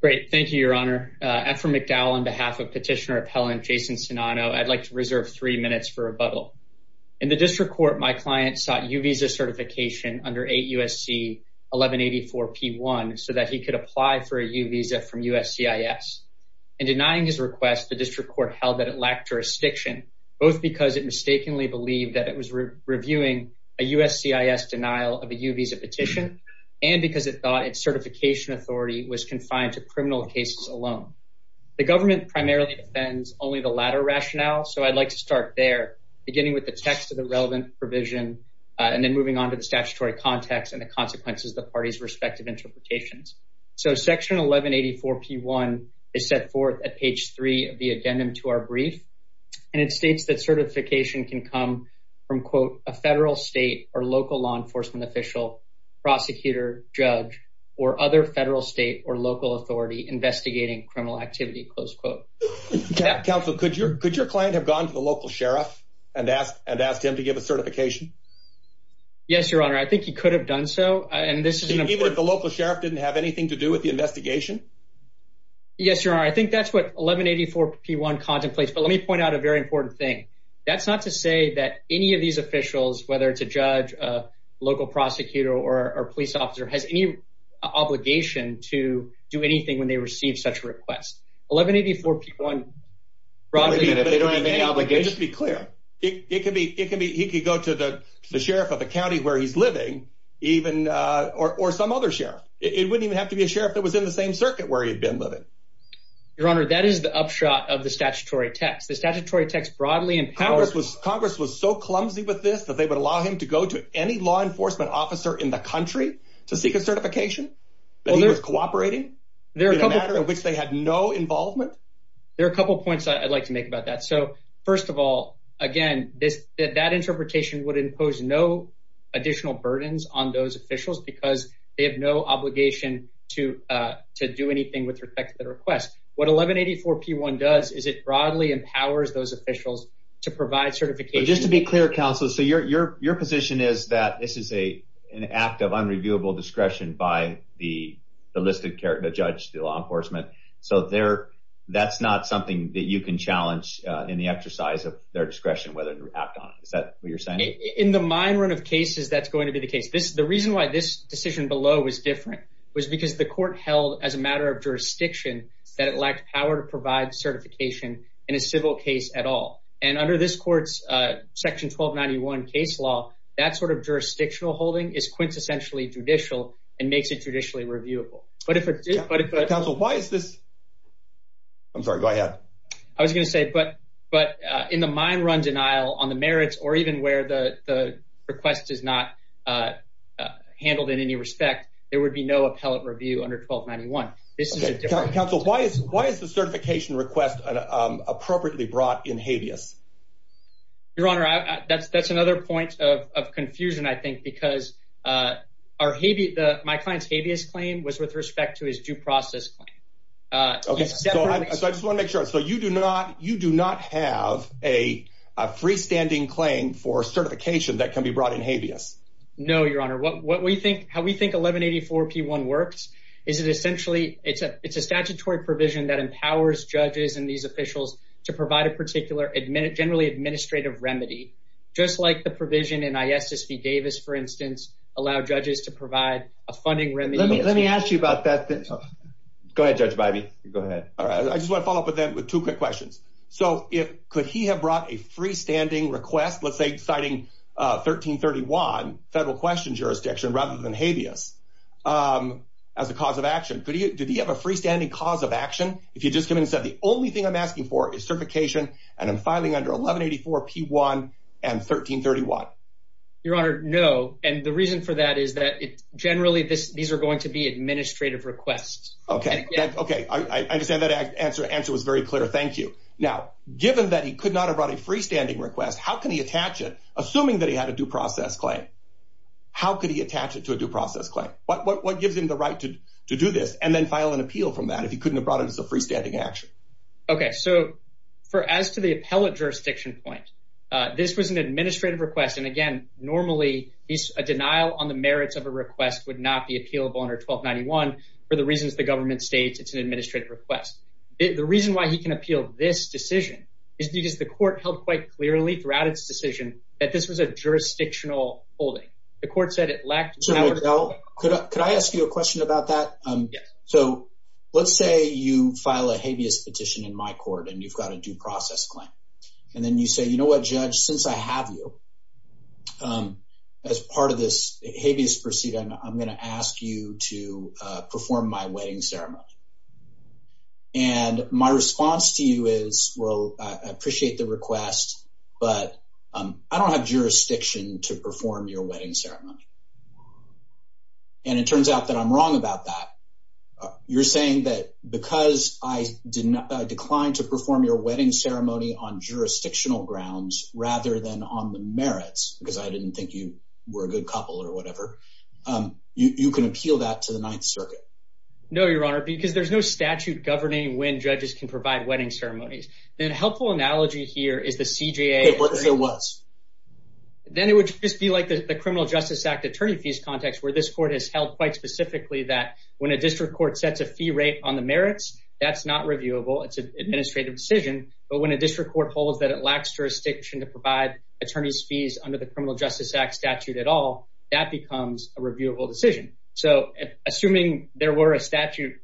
Great, thank you, Your Honor. I'm from McDowell. On behalf of Petitioner Appellant Jason Nsinano, I'd like to reserve three minutes for rebuttal. In the District Court, my client sought U-Visa certification under 8 U.S.C. 1184-P1 so that he could apply for a U-Visa from USCIS. In denying his request, the District Court held that it lacked jurisdiction, both because it mistakenly believed that it was reviewing a USCIS denial of a U-Visa petition, and because it thought its certification authority was confined to criminal cases alone. The government primarily defends only the latter rationale, so I'd like to start there, beginning with the text of the relevant provision and then moving on to the statutory context and the consequences of the parties' respective interpretations. So Section 1184-P1 is set forth at page 3 of the addendum to our brief, and it states that certification can come from, a federal, state, or local law enforcement official, prosecutor, judge, or other federal, state, or local authority investigating criminal activity. Counsel, could your client have gone to the local sheriff and asked him to give a certification? Yes, Your Honor. I think he could have done so, and this is an important... Even if the local sheriff didn't have anything to do with the investigation? Yes, Your Honor. I think that's what 1184-P1 contemplates, but let me point out a very important point. I don't know if any of these officials, whether it's a judge, a local prosecutor, or a police officer, has any obligation to do anything when they receive such a request. 1184-P1, broadly, if they don't have any obligation... Just be clear. He could go to the sheriff of the county where he's living, or some other sheriff. It wouldn't even have to be a sheriff that was in the same circuit where he'd been living. Your Honor, that is the upshot of the statutory text. The statutory text broadly empowers... Congress was so clumsy with this that they would allow him to go to any law enforcement officer in the country to seek a certification? That he was cooperating in a matter in which they had no involvement? There are a couple points I'd like to make about that. First of all, again, that interpretation would impose no additional burdens on those officials because they have no obligation to do anything with respect to the request. What 1184-P1 does is it broadly empowers those officials to provide certification... Just to be clear, counsel, your position is that this is an act of unreviewable discretion by the listed judge, the law enforcement. That's not something that you can challenge in the exercise of their discretion whether to act on it. Is that what you're saying? In the minority of cases, that's going to be the case. The reason why this decision below was different was because the court held as a matter of jurisdiction that it lacked power to provide certification in a civil case at all. Under this court's section 1291 case law, that sort of jurisdictional holding is quintessentially judicial and makes it judicially reviewable. But if it... Counsel, why is this... I'm sorry, go ahead. I was going to say, but in the mine run denial on the merits or even where the request is not handled in any respect, there would be no appellate review under 1291. This is a different... Counsel, why is the certification request appropriately brought in habeas? Your Honor, that's another point of confusion, I think, because my client's habeas claim was with respect to his due process claim. Okay, so I just want to make sure. So you do not have a freestanding claim for certification that 1184-P1 works. It's a statutory provision that empowers judges and these officials to provide a particular generally administrative remedy, just like the provision in ISSB Davis, for instance, allow judges to provide a funding remedy. Let me ask you about that. Go ahead, Judge Bivey. Go ahead. I just want to follow up with that with two quick questions. So could he have brought a freestanding request, let's say citing 1331 federal question jurisdiction rather than habeas as a cause of action? Did he have a freestanding cause of action? If he just came in and said, the only thing I'm asking for is certification and I'm filing under 1184-P1 and 1331? Your Honor, no. And the reason for that is that generally these are going to be administrative requests. Okay. I understand that answer was very clear. Thank you. Now, given that he could not have brought a freestanding request, how can he attach it assuming that he had a due process claim? How could he attach it to a due process claim? What gives him the right to do this and then file an appeal from that if he couldn't have brought it as a freestanding action? Okay. So for as to the appellate jurisdiction point, this was an administrative request. And again, normally a denial on the merits of a request would not be appealable under 1291 for the reasons the government states it's an administrative request. The reason why he can appeal this decision is because the court held quite clearly throughout its decision that this was a jurisdictional holding. The court said it lacked the power to- So Miguel, could I ask you a question about that? Yes. So let's say you file a habeas petition in my court and you've got a due process claim. And then you say, you know what, Judge, since I have you as part of this habeas proceeding, I'm going to ask you to perform my wedding ceremony. And my response to you is, well, I appreciate the request, but I don't have jurisdiction to perform your wedding ceremony. And it turns out that I'm wrong about that. You're saying that because I declined to perform your wedding ceremony on jurisdictional grounds rather than on the merits, because I didn't think you were a good couple or whatever, you can appeal that to the Ninth Circuit? No, Your Honor, because there's no statute governing when judges can provide wedding ceremonies. Then a helpful analogy here is the CJA- Okay, what if it was? Then it would just be like the Criminal Justice Act attorney fees context where this court has held quite specifically that when a district court sets a fee rate on the merits, that's not reviewable. It's an administrative decision. But when a district court holds that it lacks jurisdiction to provide attorney's fees under the Criminal Justice Act statute at all, that becomes a reviewable decision. So assuming there were a statute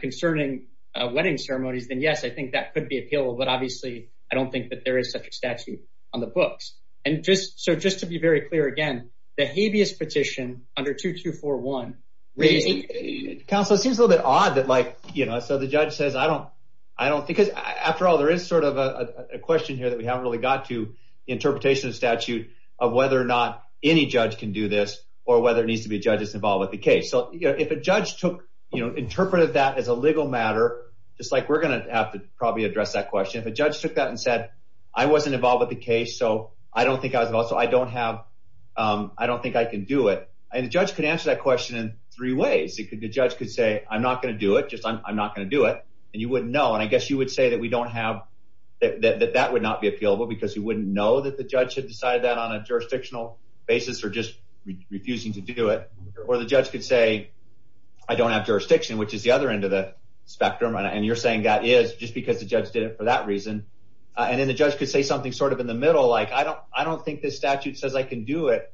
concerning wedding ceremonies, then yes, I think that could be appealable. But obviously, I don't think that there is such a statute on the books. So just to be very clear again, the habeas petition under 2241- Counsel, it seems a little bit odd that the judge says, I don't think, because after all, there is sort of a question here that we haven't really got to the interpretation of statute of whether or not any judge can do this or whether it needs to be a judge that's involved with the question. If a judge took that and said, I wasn't involved with the case, so I don't think I can do it. And the judge could answer that question in three ways. The judge could say, I'm not going to do it, just I'm not going to do it. And you wouldn't know. And I guess you would say that that would not be appealable because you wouldn't know that the judge had decided that on a jurisdictional basis or just refusing to do it. Or the judge could say, I don't have jurisdiction, which is the other end of the spectrum. And you're saying that is just because the judge did it for that reason. And then the judge could say something sort of in the middle, like, I don't think this statute says I can do it.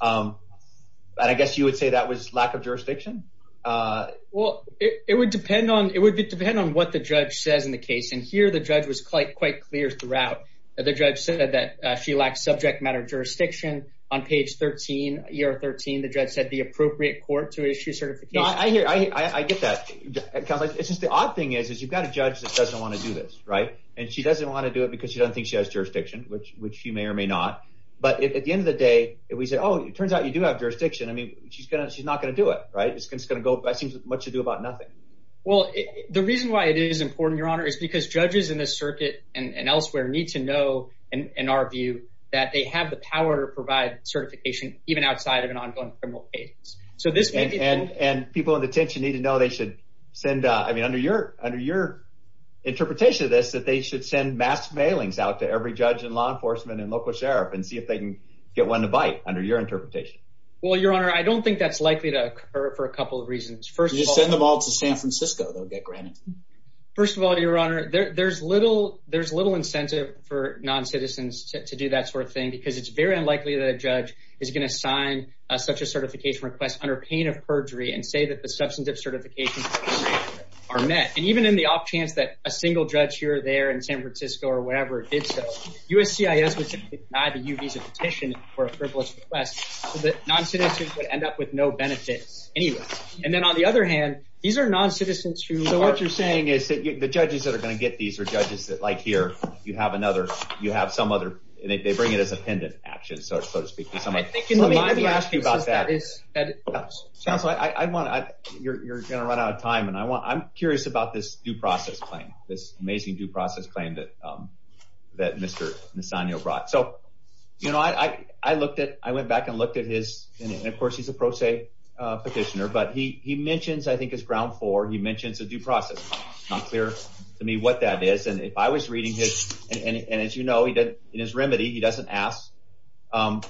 But I guess you would say that was lack of jurisdiction. Well, it would depend on it would depend on what the judge says in the case. And here, the judge was quite, quite clear throughout that the judge said that she lacked subject matter jurisdiction. On page 13, year 13, the judge said the appropriate court to issue certification. I hear I get that. It's just the odd thing is, is you've got a judge that doesn't want to do this. Right. And she doesn't want to do it because she doesn't think she has jurisdiction, which which you may or may not. But at the end of the day, we said, oh, it turns out you do have jurisdiction. I mean, she's going to she's not going to do it. Right. It's going to go. That seems much to do about nothing. Well, the reason why it is important, Your Honor, is because judges in the circuit and elsewhere need to know, in our view, that they have the power to provide certification even outside of an ongoing criminal case. So this and people in detention need to know they should send I mean, under your under your interpretation of this, that they should send mass mailings out to every judge and law enforcement and local sheriff and see if they can get one to bite under your interpretation. Well, Your Honor, I don't think that's likely to occur for a couple of reasons. First, you send them all to San Francisco. They'll get granted. First of all, Your Honor, there's little there's little incentive for noncitizens to do that sort of thing, because it's very unlikely that a judge is going to sign such a certification request under pain of perjury and say that the substantive certifications are met. And even in the off chance that a single judge here or there in San Francisco or wherever did so, USCIS would deny the U visa petition for a frivolous request that noncitizens would end up with no benefits anyway. And then on the other hand, these are noncitizens who know what you're saying is that the judges that are going to get these are judges that like here you have another you have some other they bring it as a pendant action, so to speak, because I'm asking about that is that I want to you're going to run out of time. And I want I'm curious about this due process claim, this amazing due process claim that that Mr. Nisanyo brought. So, you know, I looked at I went back and looked at his. And of course, he's a pro se petitioner. But he mentions, I think, his ground for he mentions a due process. Not clear to me what that is. And if I was reading his and as you know, he did in his remedy, he doesn't ask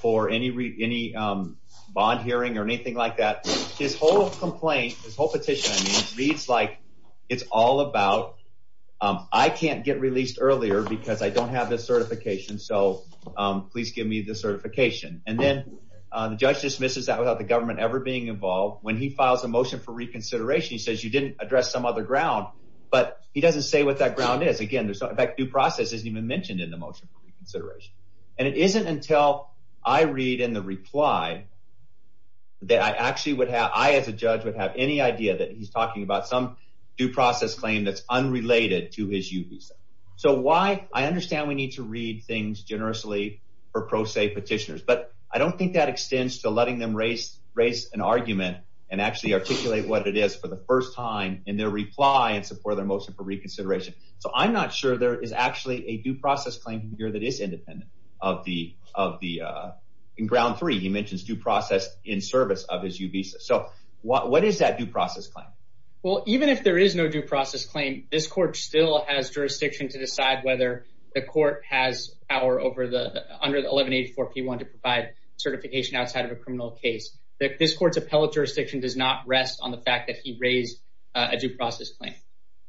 for any any bond hearing or anything like that. His whole complaint, his whole petition reads like it's all about I can't get released earlier because I don't have this certification. So please give me the certification. And then the judge dismisses that without the government ever being involved when he files a motion for reconsideration. He says you didn't address some other ground, but he doesn't say what that ground is. Again, there's no due process isn't even mentioned in the motion for reconsideration. And it isn't until I read in the reply that I actually would have I as a judge would have any idea that he's talking about some due process claim that's unrelated to his U visa. So why? I understand we need to read things generously for pro se petitioners, but I don't think that extends to letting them raise raise an argument and actually articulate what it is for the first time in their reply and support their reconsideration. So I'm not sure there is actually a due process claim here that is independent of the of the in ground three, he mentions due process in service of his U visa. So what is that due process claim? Well, even if there is no due process claim, this court still has jurisdiction to decide whether the court has power over the under the 1184 P one to provide certification outside of a criminal case that this court's appellate jurisdiction does not rest on the fact that he raised a due process claim.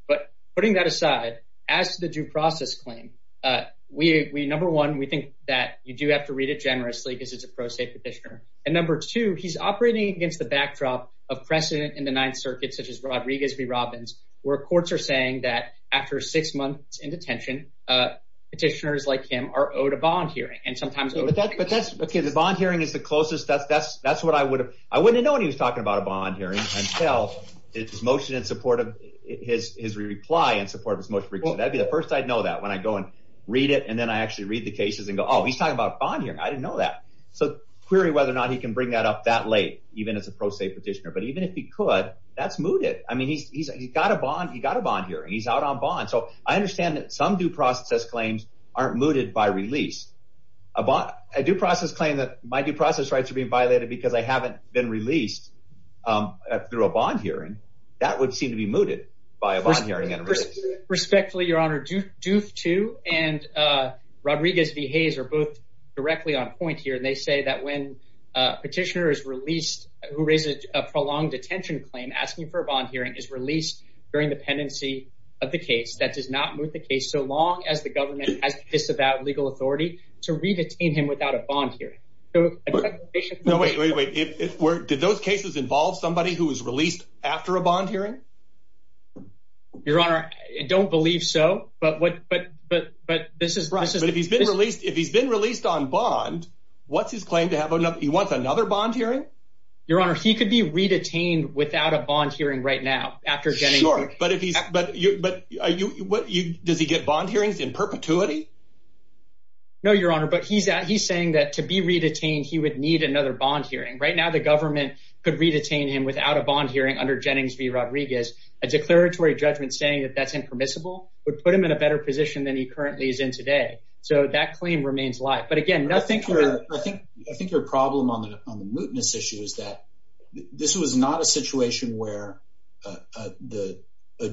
But putting that aside, as the due process claim, we number one, we think that you do have to read it generously because it's a pro se petitioner. And number two, he's operating against the backdrop of precedent in the Ninth Circuit, such as Rodriguez v. Robbins, where courts are saying that after six months in detention, petitioners like him are owed a bond hearing and sometimes but that's okay, the bond hearing is the closest that's that's that's what I would have I wouldn't know what he was talking about a bond hearing and tell his motion in support of his his reply in support of his motion. That'd be the first I'd know that when I go and read it, and then I actually read the cases and go, Oh, he's talking about bond here. I didn't know that. So query whether or not he can bring that up that late, even as a pro se petitioner, but even if he could, that's mooted. I mean, he's got a bond, he got a bond here, and he's out on bond. So I understand that some due process claims aren't mooted by release, a bond, a due process claim that my due process rights are being violated, because I haven't been released through a bond hearing, that would seem to be mooted by a bond hearing and respectfully, Your Honor, do do two and Rodriguez v. Hayes are both directly on point here. And they say that when a petitioner is released, who raises a prolonged detention claim asking for a bond hearing is released during the pendency of the case that does not move the case so long as the government has disavowed legal authority to read it in him without a bond here. So no, wait, wait, wait. It's where did those cases involve somebody who was released after a bond hearing? Your Honor, I don't believe so. But what? But but but this is right. But if he's been released, if he's been released on bond, what's his claim to have enough? He wants another bond hearing. Your Honor, he could be redetained without a bond hearing right now after January. But if he's but but what does he get bond hearings in perpetuity? No, Your Honor, but he's he's saying that to be redetained, he would need another bond hearing. Right now, the government could redetain him without a bond hearing under Jennings v. Rodriguez. A declaratory judgment saying that that's impermissible would put him in a better position than he currently is in today. So that claim remains live. But again, nothing. I think I think your problem on the on the mootness issue is that this was not a situation where the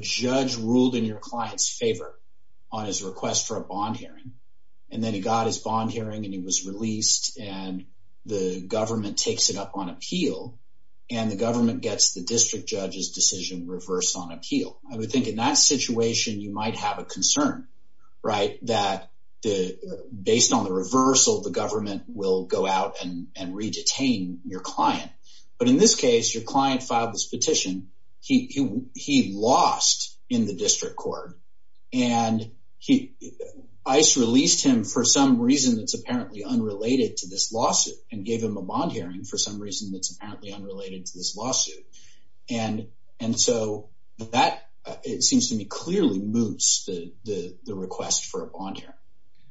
judge ruled in your client's favor on his request for a bond hearing. And then he got his bond hearing and he was released. And the government takes it up on appeal. And the government gets the district judge's decision reversed on appeal. I would think in that situation, you might have a concern, right, that the based on the reversal, the government will go and redetain your client. But in this case, your client filed this petition. He he lost in the district court. And he ice released him for some reason that's apparently unrelated to this lawsuit and gave him a bond hearing for some reason that's apparently unrelated to this lawsuit. And and so that it seems to me clearly moots the request for a bond here.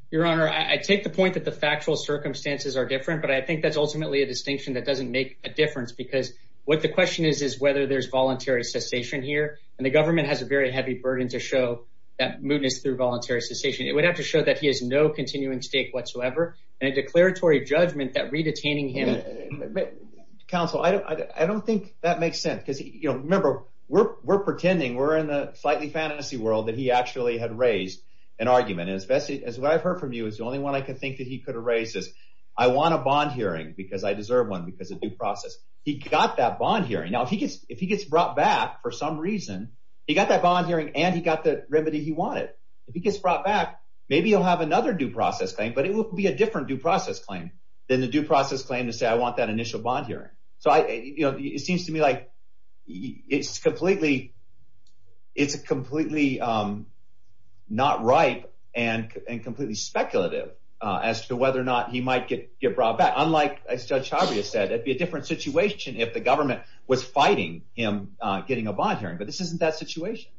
Your Honor, I take the point that the factual circumstances are different, but I think that's ultimately a distinction that doesn't make a difference. Because what the question is, is whether there's voluntary cessation here. And the government has a very heavy burden to show that mootness through voluntary cessation. It would have to show that he has no continuing stake whatsoever and a declaratory judgment that redetaining him. Counsel, I don't think that makes sense because, you know, remember, we're we're pretending we're in the slightly fantasy world that he actually had raised an argument as best as what I've heard from you is the only one I could think that he could erase this. I want a bond hearing because I deserve one because of due process. He got that bond hearing. Now, if he gets if he gets brought back for some reason, he got that bond hearing and he got the remedy he wanted. If he gets brought back, maybe he'll have another due process claim, but it will be a different due process claim than the due process claim to say I want that initial bond hearing. So, you know, it seems to me like it's completely it's completely not right and completely speculative as to whether or not he might get get brought back. Unlike, as Judge Javier said, it'd be a different situation if the government was fighting him getting a bond hearing. But this isn't that situation.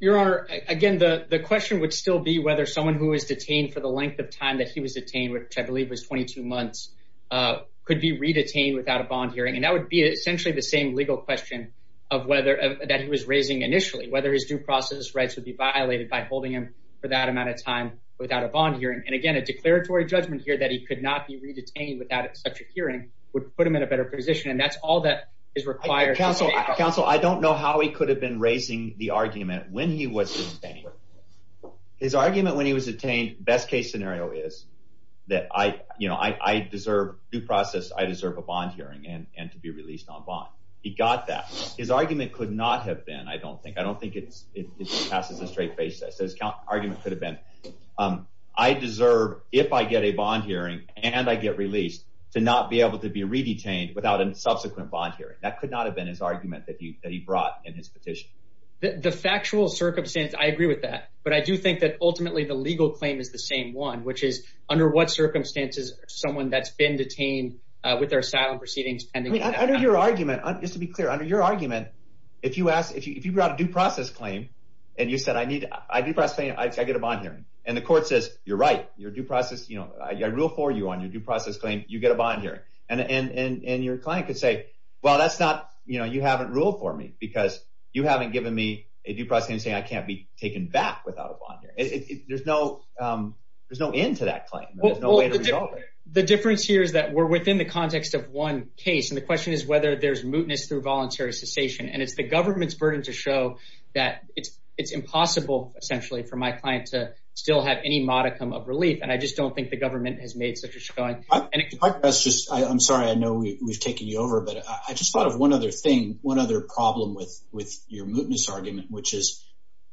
Your Honor, again, the question would still be whether someone who is detained for the length of time that he was detained, which I believe was 22 months, could be redetained without a bond legal question of whether that he was raising initially, whether his due process rights would be violated by holding him for that amount of time without a bond hearing. And again, a declaratory judgment here that he could not be redetained without such a hearing would put him in a better position. And that's all that is required. Counsel, I don't know how he could have been raising the argument when he was his argument when he was detained. Best case scenario is that I you know, I deserve due and to be released on bond. He got that. His argument could not have been I don't think I don't think it's it passes a straight face that says argument could have been I deserve if I get a bond hearing and I get released to not be able to be redetained without a subsequent bond hearing. That could not have been his argument that he that he brought in his petition. The factual circumstance, I agree with that. But I do think that ultimately the legal claim is the same one, which is under what circumstances someone that's been detained with their asylum proceedings pending under your argument. Just to be clear, under your argument, if you ask if you if you brought a due process claim and you said, I need I do. I get a bond hearing and the court says, you're right. You're due process. You know, I rule for you on your due process claim. You get a bond here and your client could say, well, that's not you know, you haven't ruled for me because you haven't given me a due process and say I can't be taken back without a bond here. There's no there's no end to that claim. There's no way to resolve it. The difference here is that we're within the context of one case. And the question is whether there's mootness through voluntary cessation. And it's the government's burden to show that it's it's impossible, essentially, for my client to still have any modicum of relief. And I just don't think the government has made such a showing. And that's just I'm sorry. I know we've taken you over. But I just thought of one other thing, one other problem with with your mootness argument, which is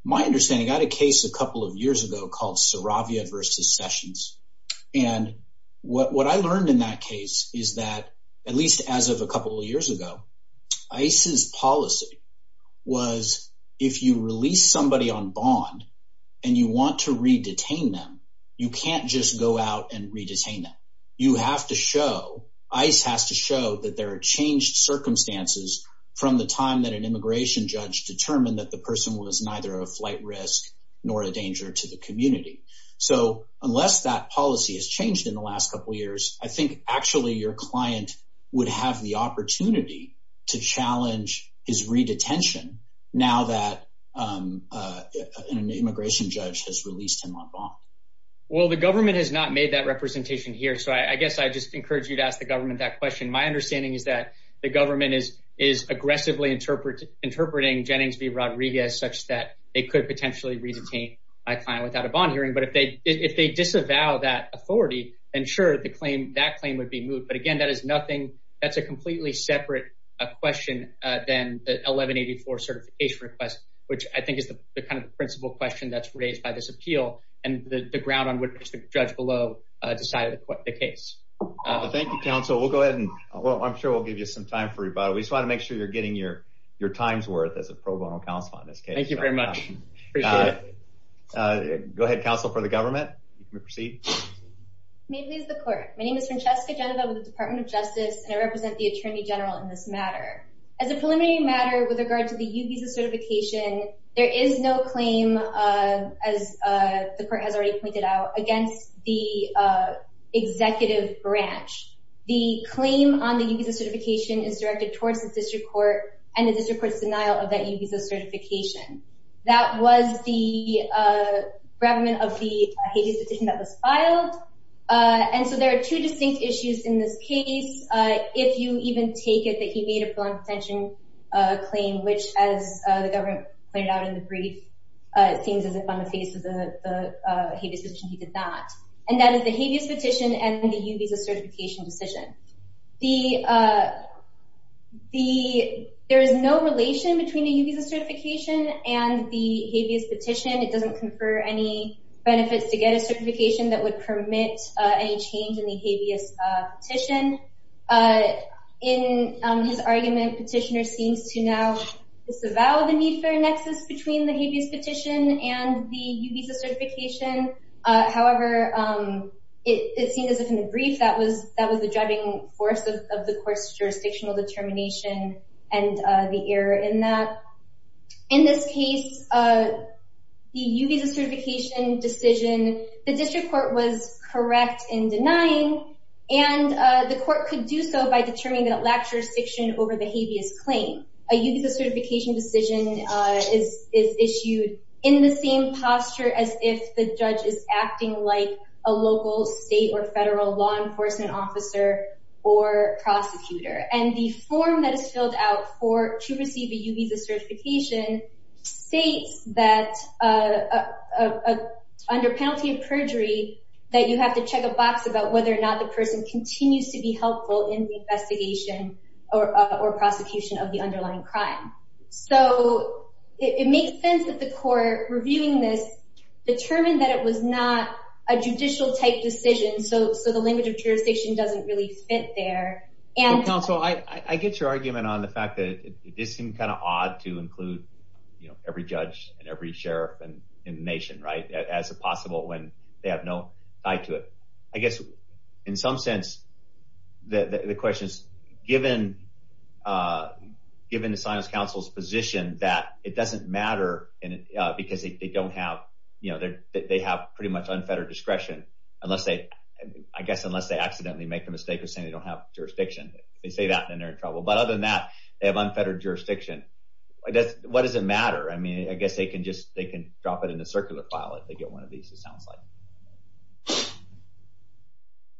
my understanding. I had a case a couple of years ago called Saravia versus Sessions. And what I learned in that case is that at least as of a couple of years ago, ICE's policy was if you release somebody on bond and you want to re-detain them, you can't just go out and re-detain them. You have to show ICE has to show that there are changed circumstances from the time that an immigration judge determined that the person was neither a flight risk nor a danger to the community. So unless that policy has changed in the last couple of years, I think actually your client would have the opportunity to challenge his re-detention now that an immigration judge has released him on bond. Well, the government has not made that representation here. So I guess I just encourage you to ask the government that question. My understanding is that the government is is aggressively interpret interpreting Jennings v. I claim without a bond hearing. But if they if they disavow that authority, ensure the claim that claim would be moved. But again, that is nothing. That's a completely separate question than the 1184 certification request, which I think is the kind of principle question that's raised by this appeal and the ground on which the judge below decided the case. Thank you, counsel. We'll go ahead and I'm sure we'll give you some time for rebuttal. We just want to make sure you're getting your your time's worth as a pro bono counsel on this case. Thank you. Go ahead, counsel, for the government. You can proceed. May it please the court. My name is Francesca Genova with the Department of Justice and I represent the attorney general in this matter as a preliminary matter with regard to the certification. There is no claim, as the court has already pointed out, against the executive branch. The claim on the certification is directed towards the district court and the district court's denial of a reprimand of the habeas petition that was filed. And so there are two distinct issues in this case. If you even take it that he made a potential claim, which, as the government pointed out in the brief, seems as if on the face of the habeas petition, he did not. And that is the habeas petition and the certification decision. The the there is no relation between the certification and the habeas petition. It doesn't confer any benefits to get a certification that would permit any change in the habeas petition. In his argument, petitioner seems to now disavow the need for a nexus between the habeas petition and the visa certification. However, it seems as if in the brief that was that was the driving force of the court's jurisdictional determination and the error in that. In this case, the U-Visa certification decision, the district court was correct in denying and the court could do so by determining that lack jurisdiction over the habeas claim. A U-Visa certification decision is issued in the same posture as if the judge is acting like a local state or federal law enforcement officer or prosecutor. And the form that is filled out for to receive a U-Visa certification states that under penalty of perjury that you have to check a box about whether or not the person continues to be helpful in the investigation or prosecution of the underlying crime. So it makes sense that the court reviewing this determined that it was not a judicial type decision. So the language of jurisdiction doesn't really fit there. And counsel, I get your argument on the fact that it does seem kind of odd to include, you know, every judge and every sheriff and in the nation, right, as possible when they have no eye to it. I guess in some sense, the question is, given the Sinos Council's position that it doesn't matter because they don't have, you know, they have pretty much unfettered discretion, unless they, I guess, unless they accidentally make the mistake of saying they don't have jurisdiction. If they say that, then they're in trouble. But other than that, they have unfettered jurisdiction. What does it matter? I mean, I guess they can just, they can drop it in the circular file if they get one of these, it sounds like.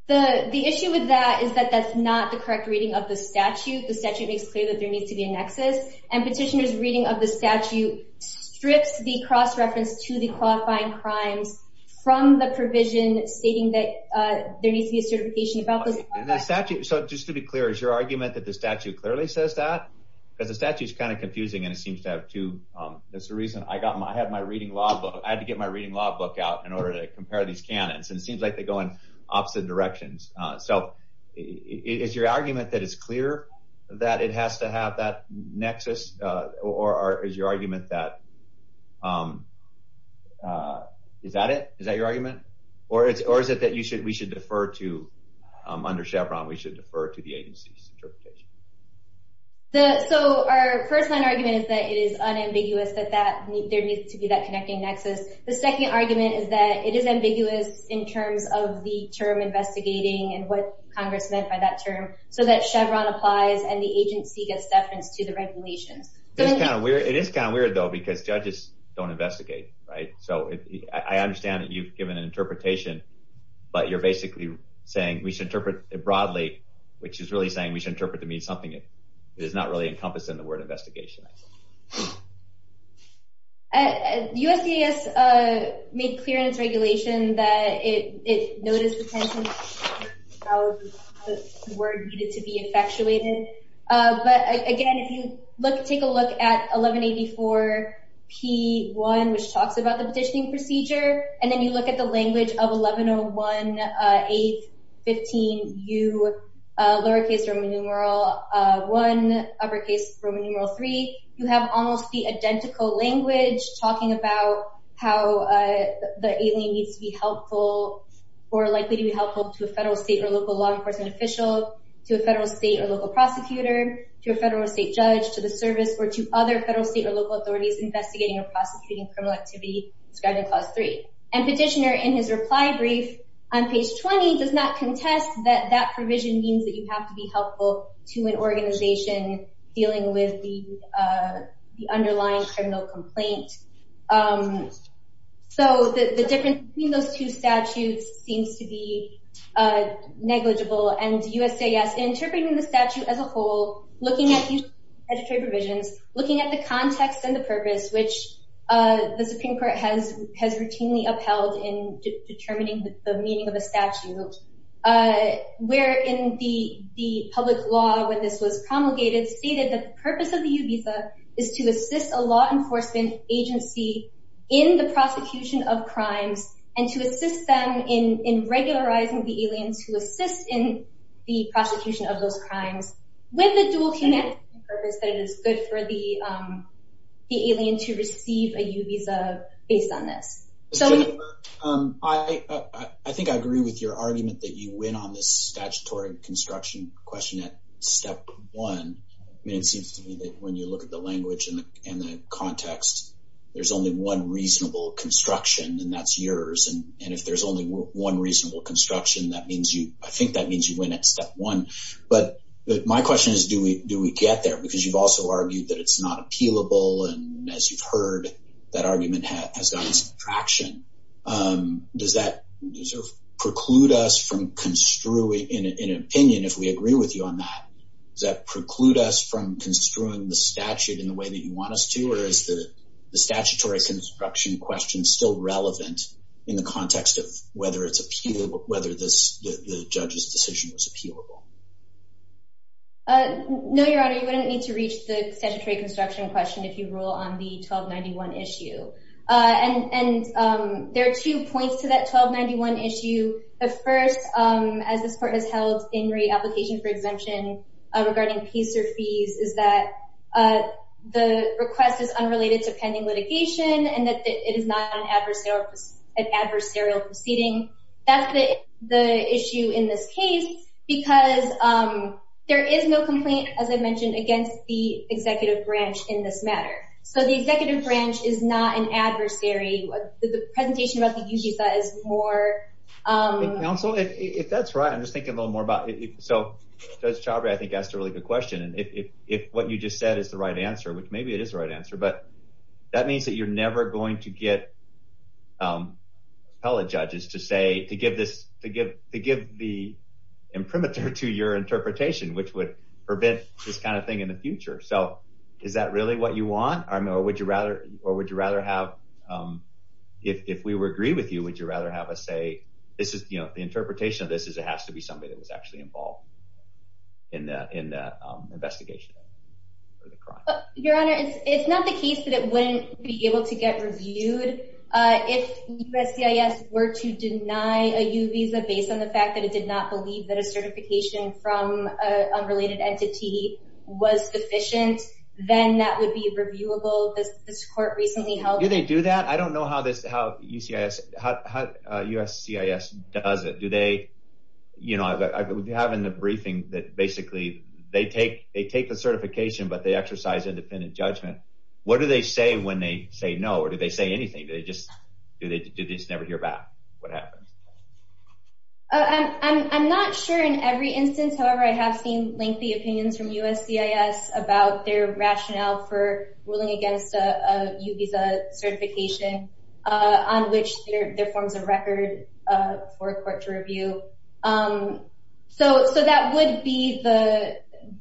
The issue with that is that that's not the correct reading of the statute. The statute makes clear that there needs to be a nexus and petitioners reading of the statute strips the cross-reference to the qualifying crimes from the provision stating that there needs to be a certification about the statute. So just to be clear, is your argument that the statute clearly says that? Because the statute is kind of confusing and it seems to have two, that's the reason I got my, I had my reading law book, I had to get my reading law book out in order to compare these canons. And it seems like they go in opposite directions. So is your argument that it's clear that it has to have that nexus? Or is your argument that, is that it? Is that your argument? Or is it that you should, we should defer to, under Chevron, we should defer to the agency's interpretation? So our first line argument is that it is unambiguous that there needs to be that connecting nexus. The second argument is that it is ambiguous in terms of the term investigating and what Congress meant by that term. So that Chevron applies and the agency gets deference to the regulations. It is kind of weird though, because judges don't investigate, right? So I understand that you've given an interpretation, but you're basically saying we should interpret it broadly, which is really saying we should interpret to mean something that is not really made clear in its regulation that it, it noticed the word needed to be effectuated. But again, if you look, take a look at 1184 P1, which talks about the petitioning procedure, and then you look at the language of 1101 815 U, lowercase Roman numeral one, uppercase Roman numeral three. You have almost the identical language talking about how the alien needs to be helpful or likely to be helpful to a federal state or local law enforcement official, to a federal state or local prosecutor, to a federal state judge, to the service or to other federal state or local authorities investigating or prosecuting criminal activity described in clause three. And petitioner in his reply brief on page 20 does not contest that that provision means that you have to be helpful to an organization dealing with the underlying criminal complaint. So the, the difference between those two statutes seems to be negligible and USAS interpreting the statute as a whole, looking at these editorial provisions, looking at the context and the purpose, which the Supreme court has, has routinely upheld in determining the public law when this was promulgated, stated the purpose of the U visa is to assist a law enforcement agency in the prosecution of crimes and to assist them in, in regularizing the aliens who assist in the prosecution of those crimes with the dual purpose that it is good for the, the alien to receive a U visa based on this. I think I agree with your argument that you construction question at step one. I mean, it seems to me that when you look at the language and the context, there's only one reasonable construction and that's yours. And if there's only one reasonable construction, that means you, I think that means you went at step one, but my question is, do we, do we get there because you've also argued that it's not appealable. And as you've heard that argument has gotten some traction. Does that sort of preclude us from construing in an opinion? If we agree with you on that, does that preclude us from construing the statute in the way that you want us to, or is the statutory construction question still relevant in the context of whether it's appealable, whether this, the judge's decision was appealable? No, Your Honor, you wouldn't need to reach the statutory construction question. If you roll on the 1291 issue and, and there are two points to that 1291 issue. The first, as this court has held in re-application for exemption regarding fees or fees is that the request is unrelated to pending litigation and that it is not an adversarial proceeding. That's the issue in this case because there is no complaint, as I mentioned, against the executive branch in this matter. So the executive branch is not an counsel. If that's right, I'm just thinking a little more about it. So Judge Chabria, I think asked a really good question. And if, if, if what you just said is the right answer, which maybe it is the right answer, but that means that you're never going to get appellate judges to say, to give this, to give, to give the imprimatur to your interpretation, which would prevent this kind of thing in the future. So is that really what you want? Or would you rather, or would you rather have us say, this is, you know, the interpretation of this is it has to be somebody that was actually involved in that, in that investigation? Your Honor, it's not the case that it wouldn't be able to get reviewed. If USCIS were to deny a U visa based on the fact that it did not believe that a certification from a related entity was sufficient, then that would be reviewable. This court recently held. Do they do that? I don't know how this, how USCIS, how USCIS does it. Do they, you know, I would have in the briefing that basically they take, they take the certification, but they exercise independent judgment. What do they say when they say no? Or do they say anything? Do they just, do they just never hear back? What happens? I'm not sure in every instance. However, I have seen lengthy opinions from USCIS about their rationale for ruling against a U visa certification on which there forms a record for a court to review. So, so that would be the,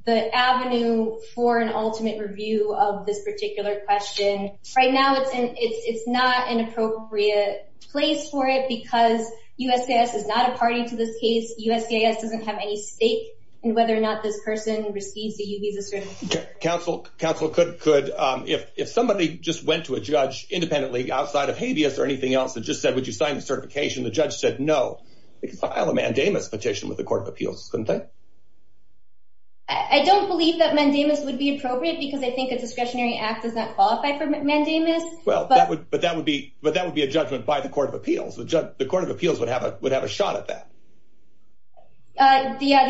the avenue for an ultimate review of this particular question. Right now it's in, it's, it's not an appropriate place for it because USCIS is not a party to this case. USCIS doesn't have any stake in whether or not this person receives the U visa certification. Counsel, counsel could, could if, if somebody just went to a judge independently outside of habeas or anything else that just said, would you sign the certification? The judge said, no. They could file a mandamus petition with the court of appeals, couldn't they? I don't believe that mandamus would be appropriate because I think a discretionary act does not qualify for mandamus. Well, but that would be, but that would be a judgment by the court of appeals. The court of appeals would have a, would have a shot at that. Uh, the, uh,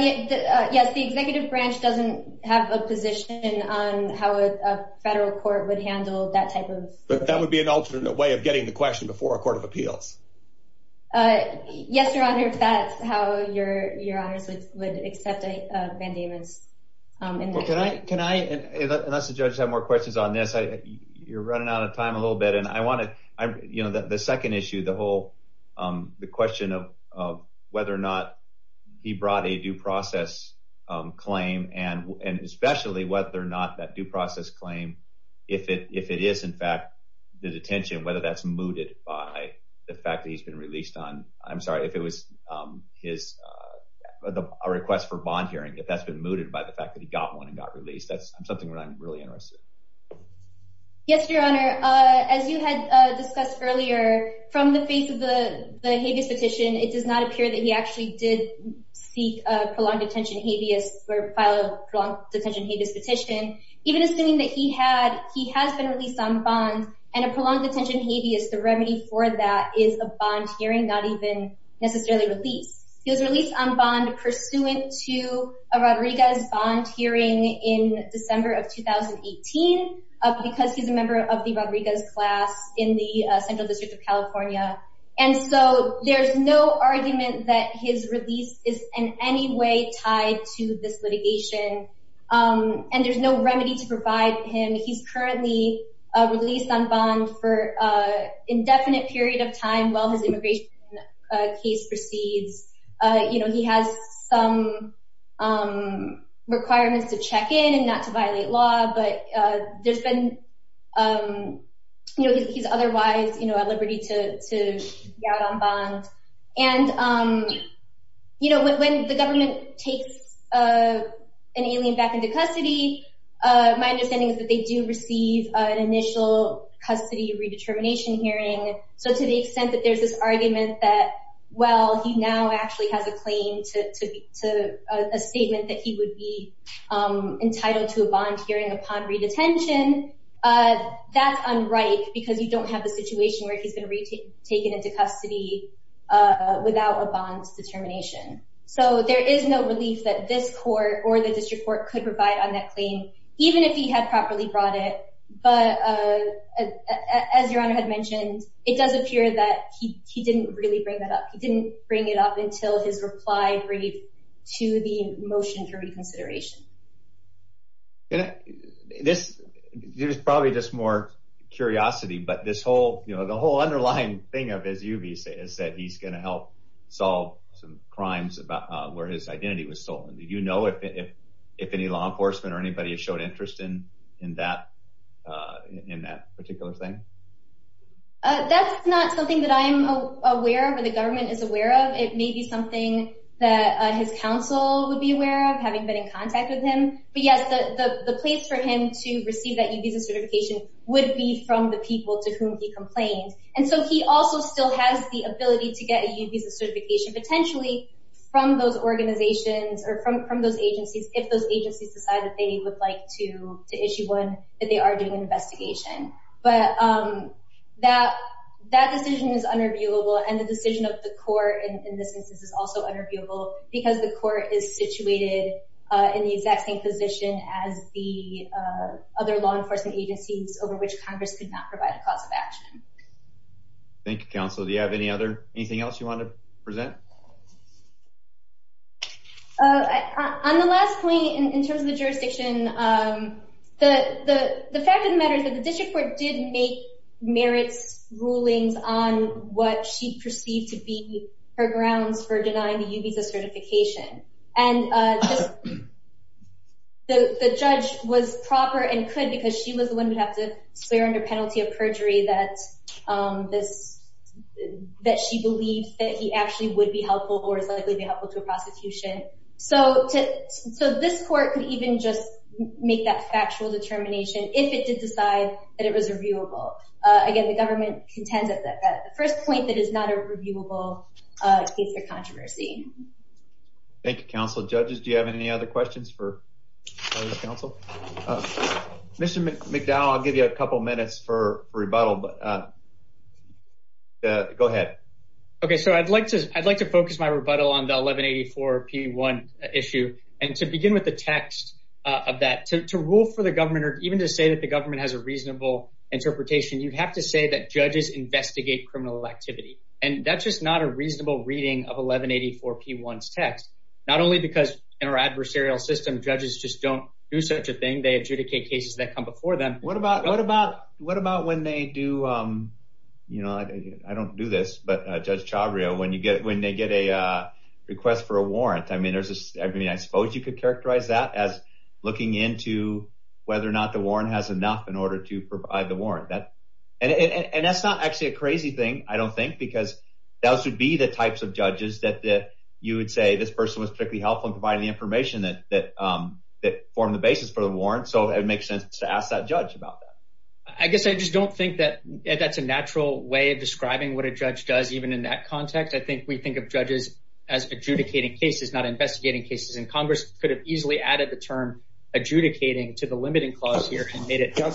yes, the executive branch doesn't have a position on how a federal court would handle that type of, but that would be an alternate way of getting the question before a court of appeals. Uh, yes, your honor. That's how your, your honors would, would accept a mandamus. Um, and can I, can I, unless the judges have more questions on this, I, you're running out of time a little bit and I want to, I'm, you know, the second issue, the whole, um, the question of, of whether or not he brought a due process, um, claim and, and especially whether or not that due process claim, if it, if it is in fact the detention, whether that's mooted by the fact that he's been released on, I'm sorry, if it was, um, his, uh, a request for bond hearing, if that's been mooted by the fact that he got one and got released, that's something I'm really interested. Yes, your honor. Uh, as you had discussed earlier from the face of the, the habeas petition, it does not appear that he actually did seek a prolonged detention habeas or file a long detention habeas petition, even assuming that he had, he has been released on bond and a prolonged detention habeas. The remedy for that is a bond hearing, not even necessarily released. He was released on bond pursuant to a Rodriguez bond hearing in December of 2018 because he's a member of the Rodriguez class in the central district of California. And so there's no argument that his release is in any way tied to this litigation. Um, and there's no remedy to provide him. He's currently released on bond for, uh, indefinite period of time while his immigration case proceeds. Uh, you know, he has some, um, and not to violate law, but, uh, there's been, um, you know, he's otherwise, you know, a liberty to, to get out on bond. And, um, you know, when, when the government takes, uh, an alien back into custody, uh, my understanding is that they do receive an initial custody redetermination hearing. So to the extent that there's this argument that, well, he now actually has a claim to, to, to a statement that he would be, um, entitled to a bond hearing upon redetention, uh, that's unripe because you don't have a situation where he's going to reach it, take it into custody, uh, without a bond determination. So there is no relief that this court or the district court could provide on that claim, even if he had properly brought it. But, uh, as your honor had mentioned, it does appear that he, he didn't really bring that up. He didn't bring it up until his reply brief to the motion for reconsideration. Yeah, this, there's probably just more curiosity, but this whole, you know, the whole underlying thing of, as you've said, is that he's going to help solve some crimes about where his identity was stolen. Did you know if, if, if any law enforcement or anybody has showed interest in, in that, uh, in that particular thing? Uh, that's not something that I'm aware of, the government is aware of. It may be something that his counsel would be aware of having been in contact with him, but yes, the, the, the place for him to receive that U visa certification would be from the people to whom he complained. And so he also still has the ability to get a U visa certification potentially from those organizations or from, from those agencies. If those agencies decide that they would like to issue one, that they are doing an investigation, but, um, that, that decision is unreviewable and the decision of the court in this instance is also unreviewable because the court is situated, uh, in the exact same position as the, uh, other law enforcement agencies over which Congress could not provide a cause of action. Thank you, counsel. Do you have any other, anything else you want to present? Uh, on the last point in terms of the jurisdiction, um, the, the, the fact of the matter is that the district court did make merits rulings on what she perceived to be her grounds for denying the U visa certification. And, uh, the, the judge was proper and could, because she was the one who would have to swear under penalty of perjury that, um, this, that she believed that he actually would be helpful or is likely to be helpful to a prosecution. So to, so this court could even just make that it was reviewable. Uh, again, the government contends that the first point that is not a reviewable, uh, case of controversy. Thank you, counsel. Judges, do you have any other questions for the council? Uh, Mr. McDowell, I'll give you a couple of minutes for rebuttal, but, uh, go ahead. Okay. So I'd like to, I'd like to focus my rebuttal on the 1184 P1 issue. And to begin with the text of that, to, to rule for the government or even to say that the government has a reasonable interpretation, you'd have to say that judges investigate criminal activity. And that's just not a reasonable reading of 1184 P1 text, not only because in our adversarial system, judges just don't do such a thing. They adjudicate cases that come before them. What about, what about, what about when they do, um, you know, I don't do this, but, uh, judge Chavrio, when you get, when they get a, uh, request for a warrant, I mean, there's this, I mean, I suppose you could characterize that as looking into whether or not the warrant has enough in order to provide the warrant that, and, and, and that's not actually a crazy thing. I don't think because that should be the types of judges that, that you would say this person was particularly helpful in providing the information that, that, um, that formed the basis for the warrant. So it makes sense to ask that judge about that. I guess I just don't think that that's a natural way of describing what a judge does, even in that context. I think we think of judges as adjudicating cases, not investigating cases in Congress could have added the term adjudicating to the limiting clause here and made it. How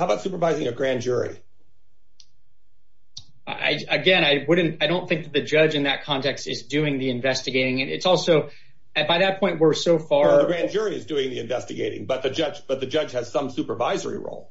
about supervising a grand jury? I, again, I wouldn't, I don't think that the judge in that context is doing the investigating. And it's also at, by that point, we're so far, the grand jury is doing the investigating, but the judge, but the judge has some supervisory role.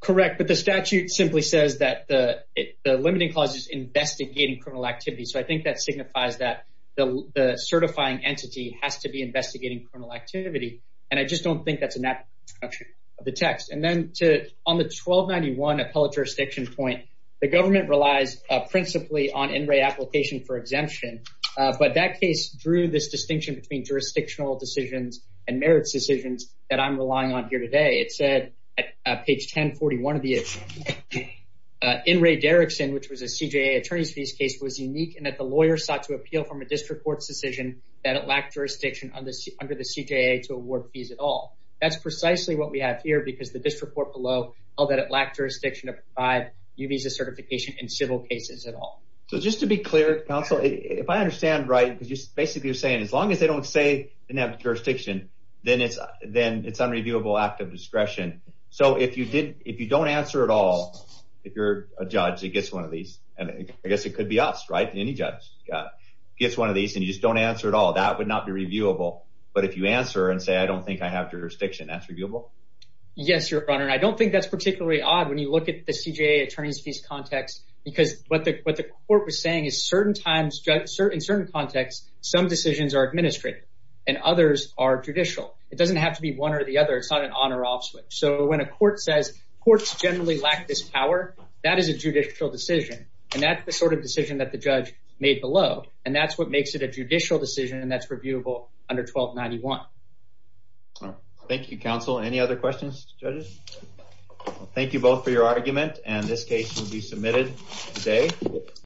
Correct. But the statute simply says that the, the limiting clause is investigating criminal activity. So I think that signifies that the, the certifying entity has to be investigating criminal activity. And I just don't think that's a natural construction of the text. And then to, on the 1291 appellate jurisdiction point, the government relies principally on NRA application for exemption. But that case drew this distinction between jurisdictional decisions and merits decisions that I'm relying on here today. It said at page 1041 of the case was unique and that the lawyer sought to appeal from a district court's decision that it lacked jurisdiction on this under the CJA to award fees at all. That's precisely what we have here because the district court below held that it lacked jurisdiction to provide U visa certification in civil cases at all. So just to be clear, counsel, if I understand right, because just basically you're saying, as long as they don't say they didn't have jurisdiction, then it's, then it's unreviewable act of discretion. So if you did, if you don't answer at all, if you're a judge that gets one of these, and I guess it could be us, right? Any judge gets one of these and you just don't answer at all. That would not be reviewable. But if you answer and say, I don't think I have jurisdiction, that's reviewable. Yes, your honor. And I don't think that's particularly odd when you look at the CJA attorneys fees context, because what the, what the court was saying is certain times, in certain contexts, some decisions are administrative and others are judicial. It doesn't have to be one or the other. It's not an on or off switch. So when a court says courts generally lack this power, that is a judicial decision. And that's the sort of decision that the judge made below. And that's what makes it a judicial decision. And that's reviewable under 1291. Thank you, counsel. Any other questions, judges? Thank you both for your argument. And this case will be submitted today.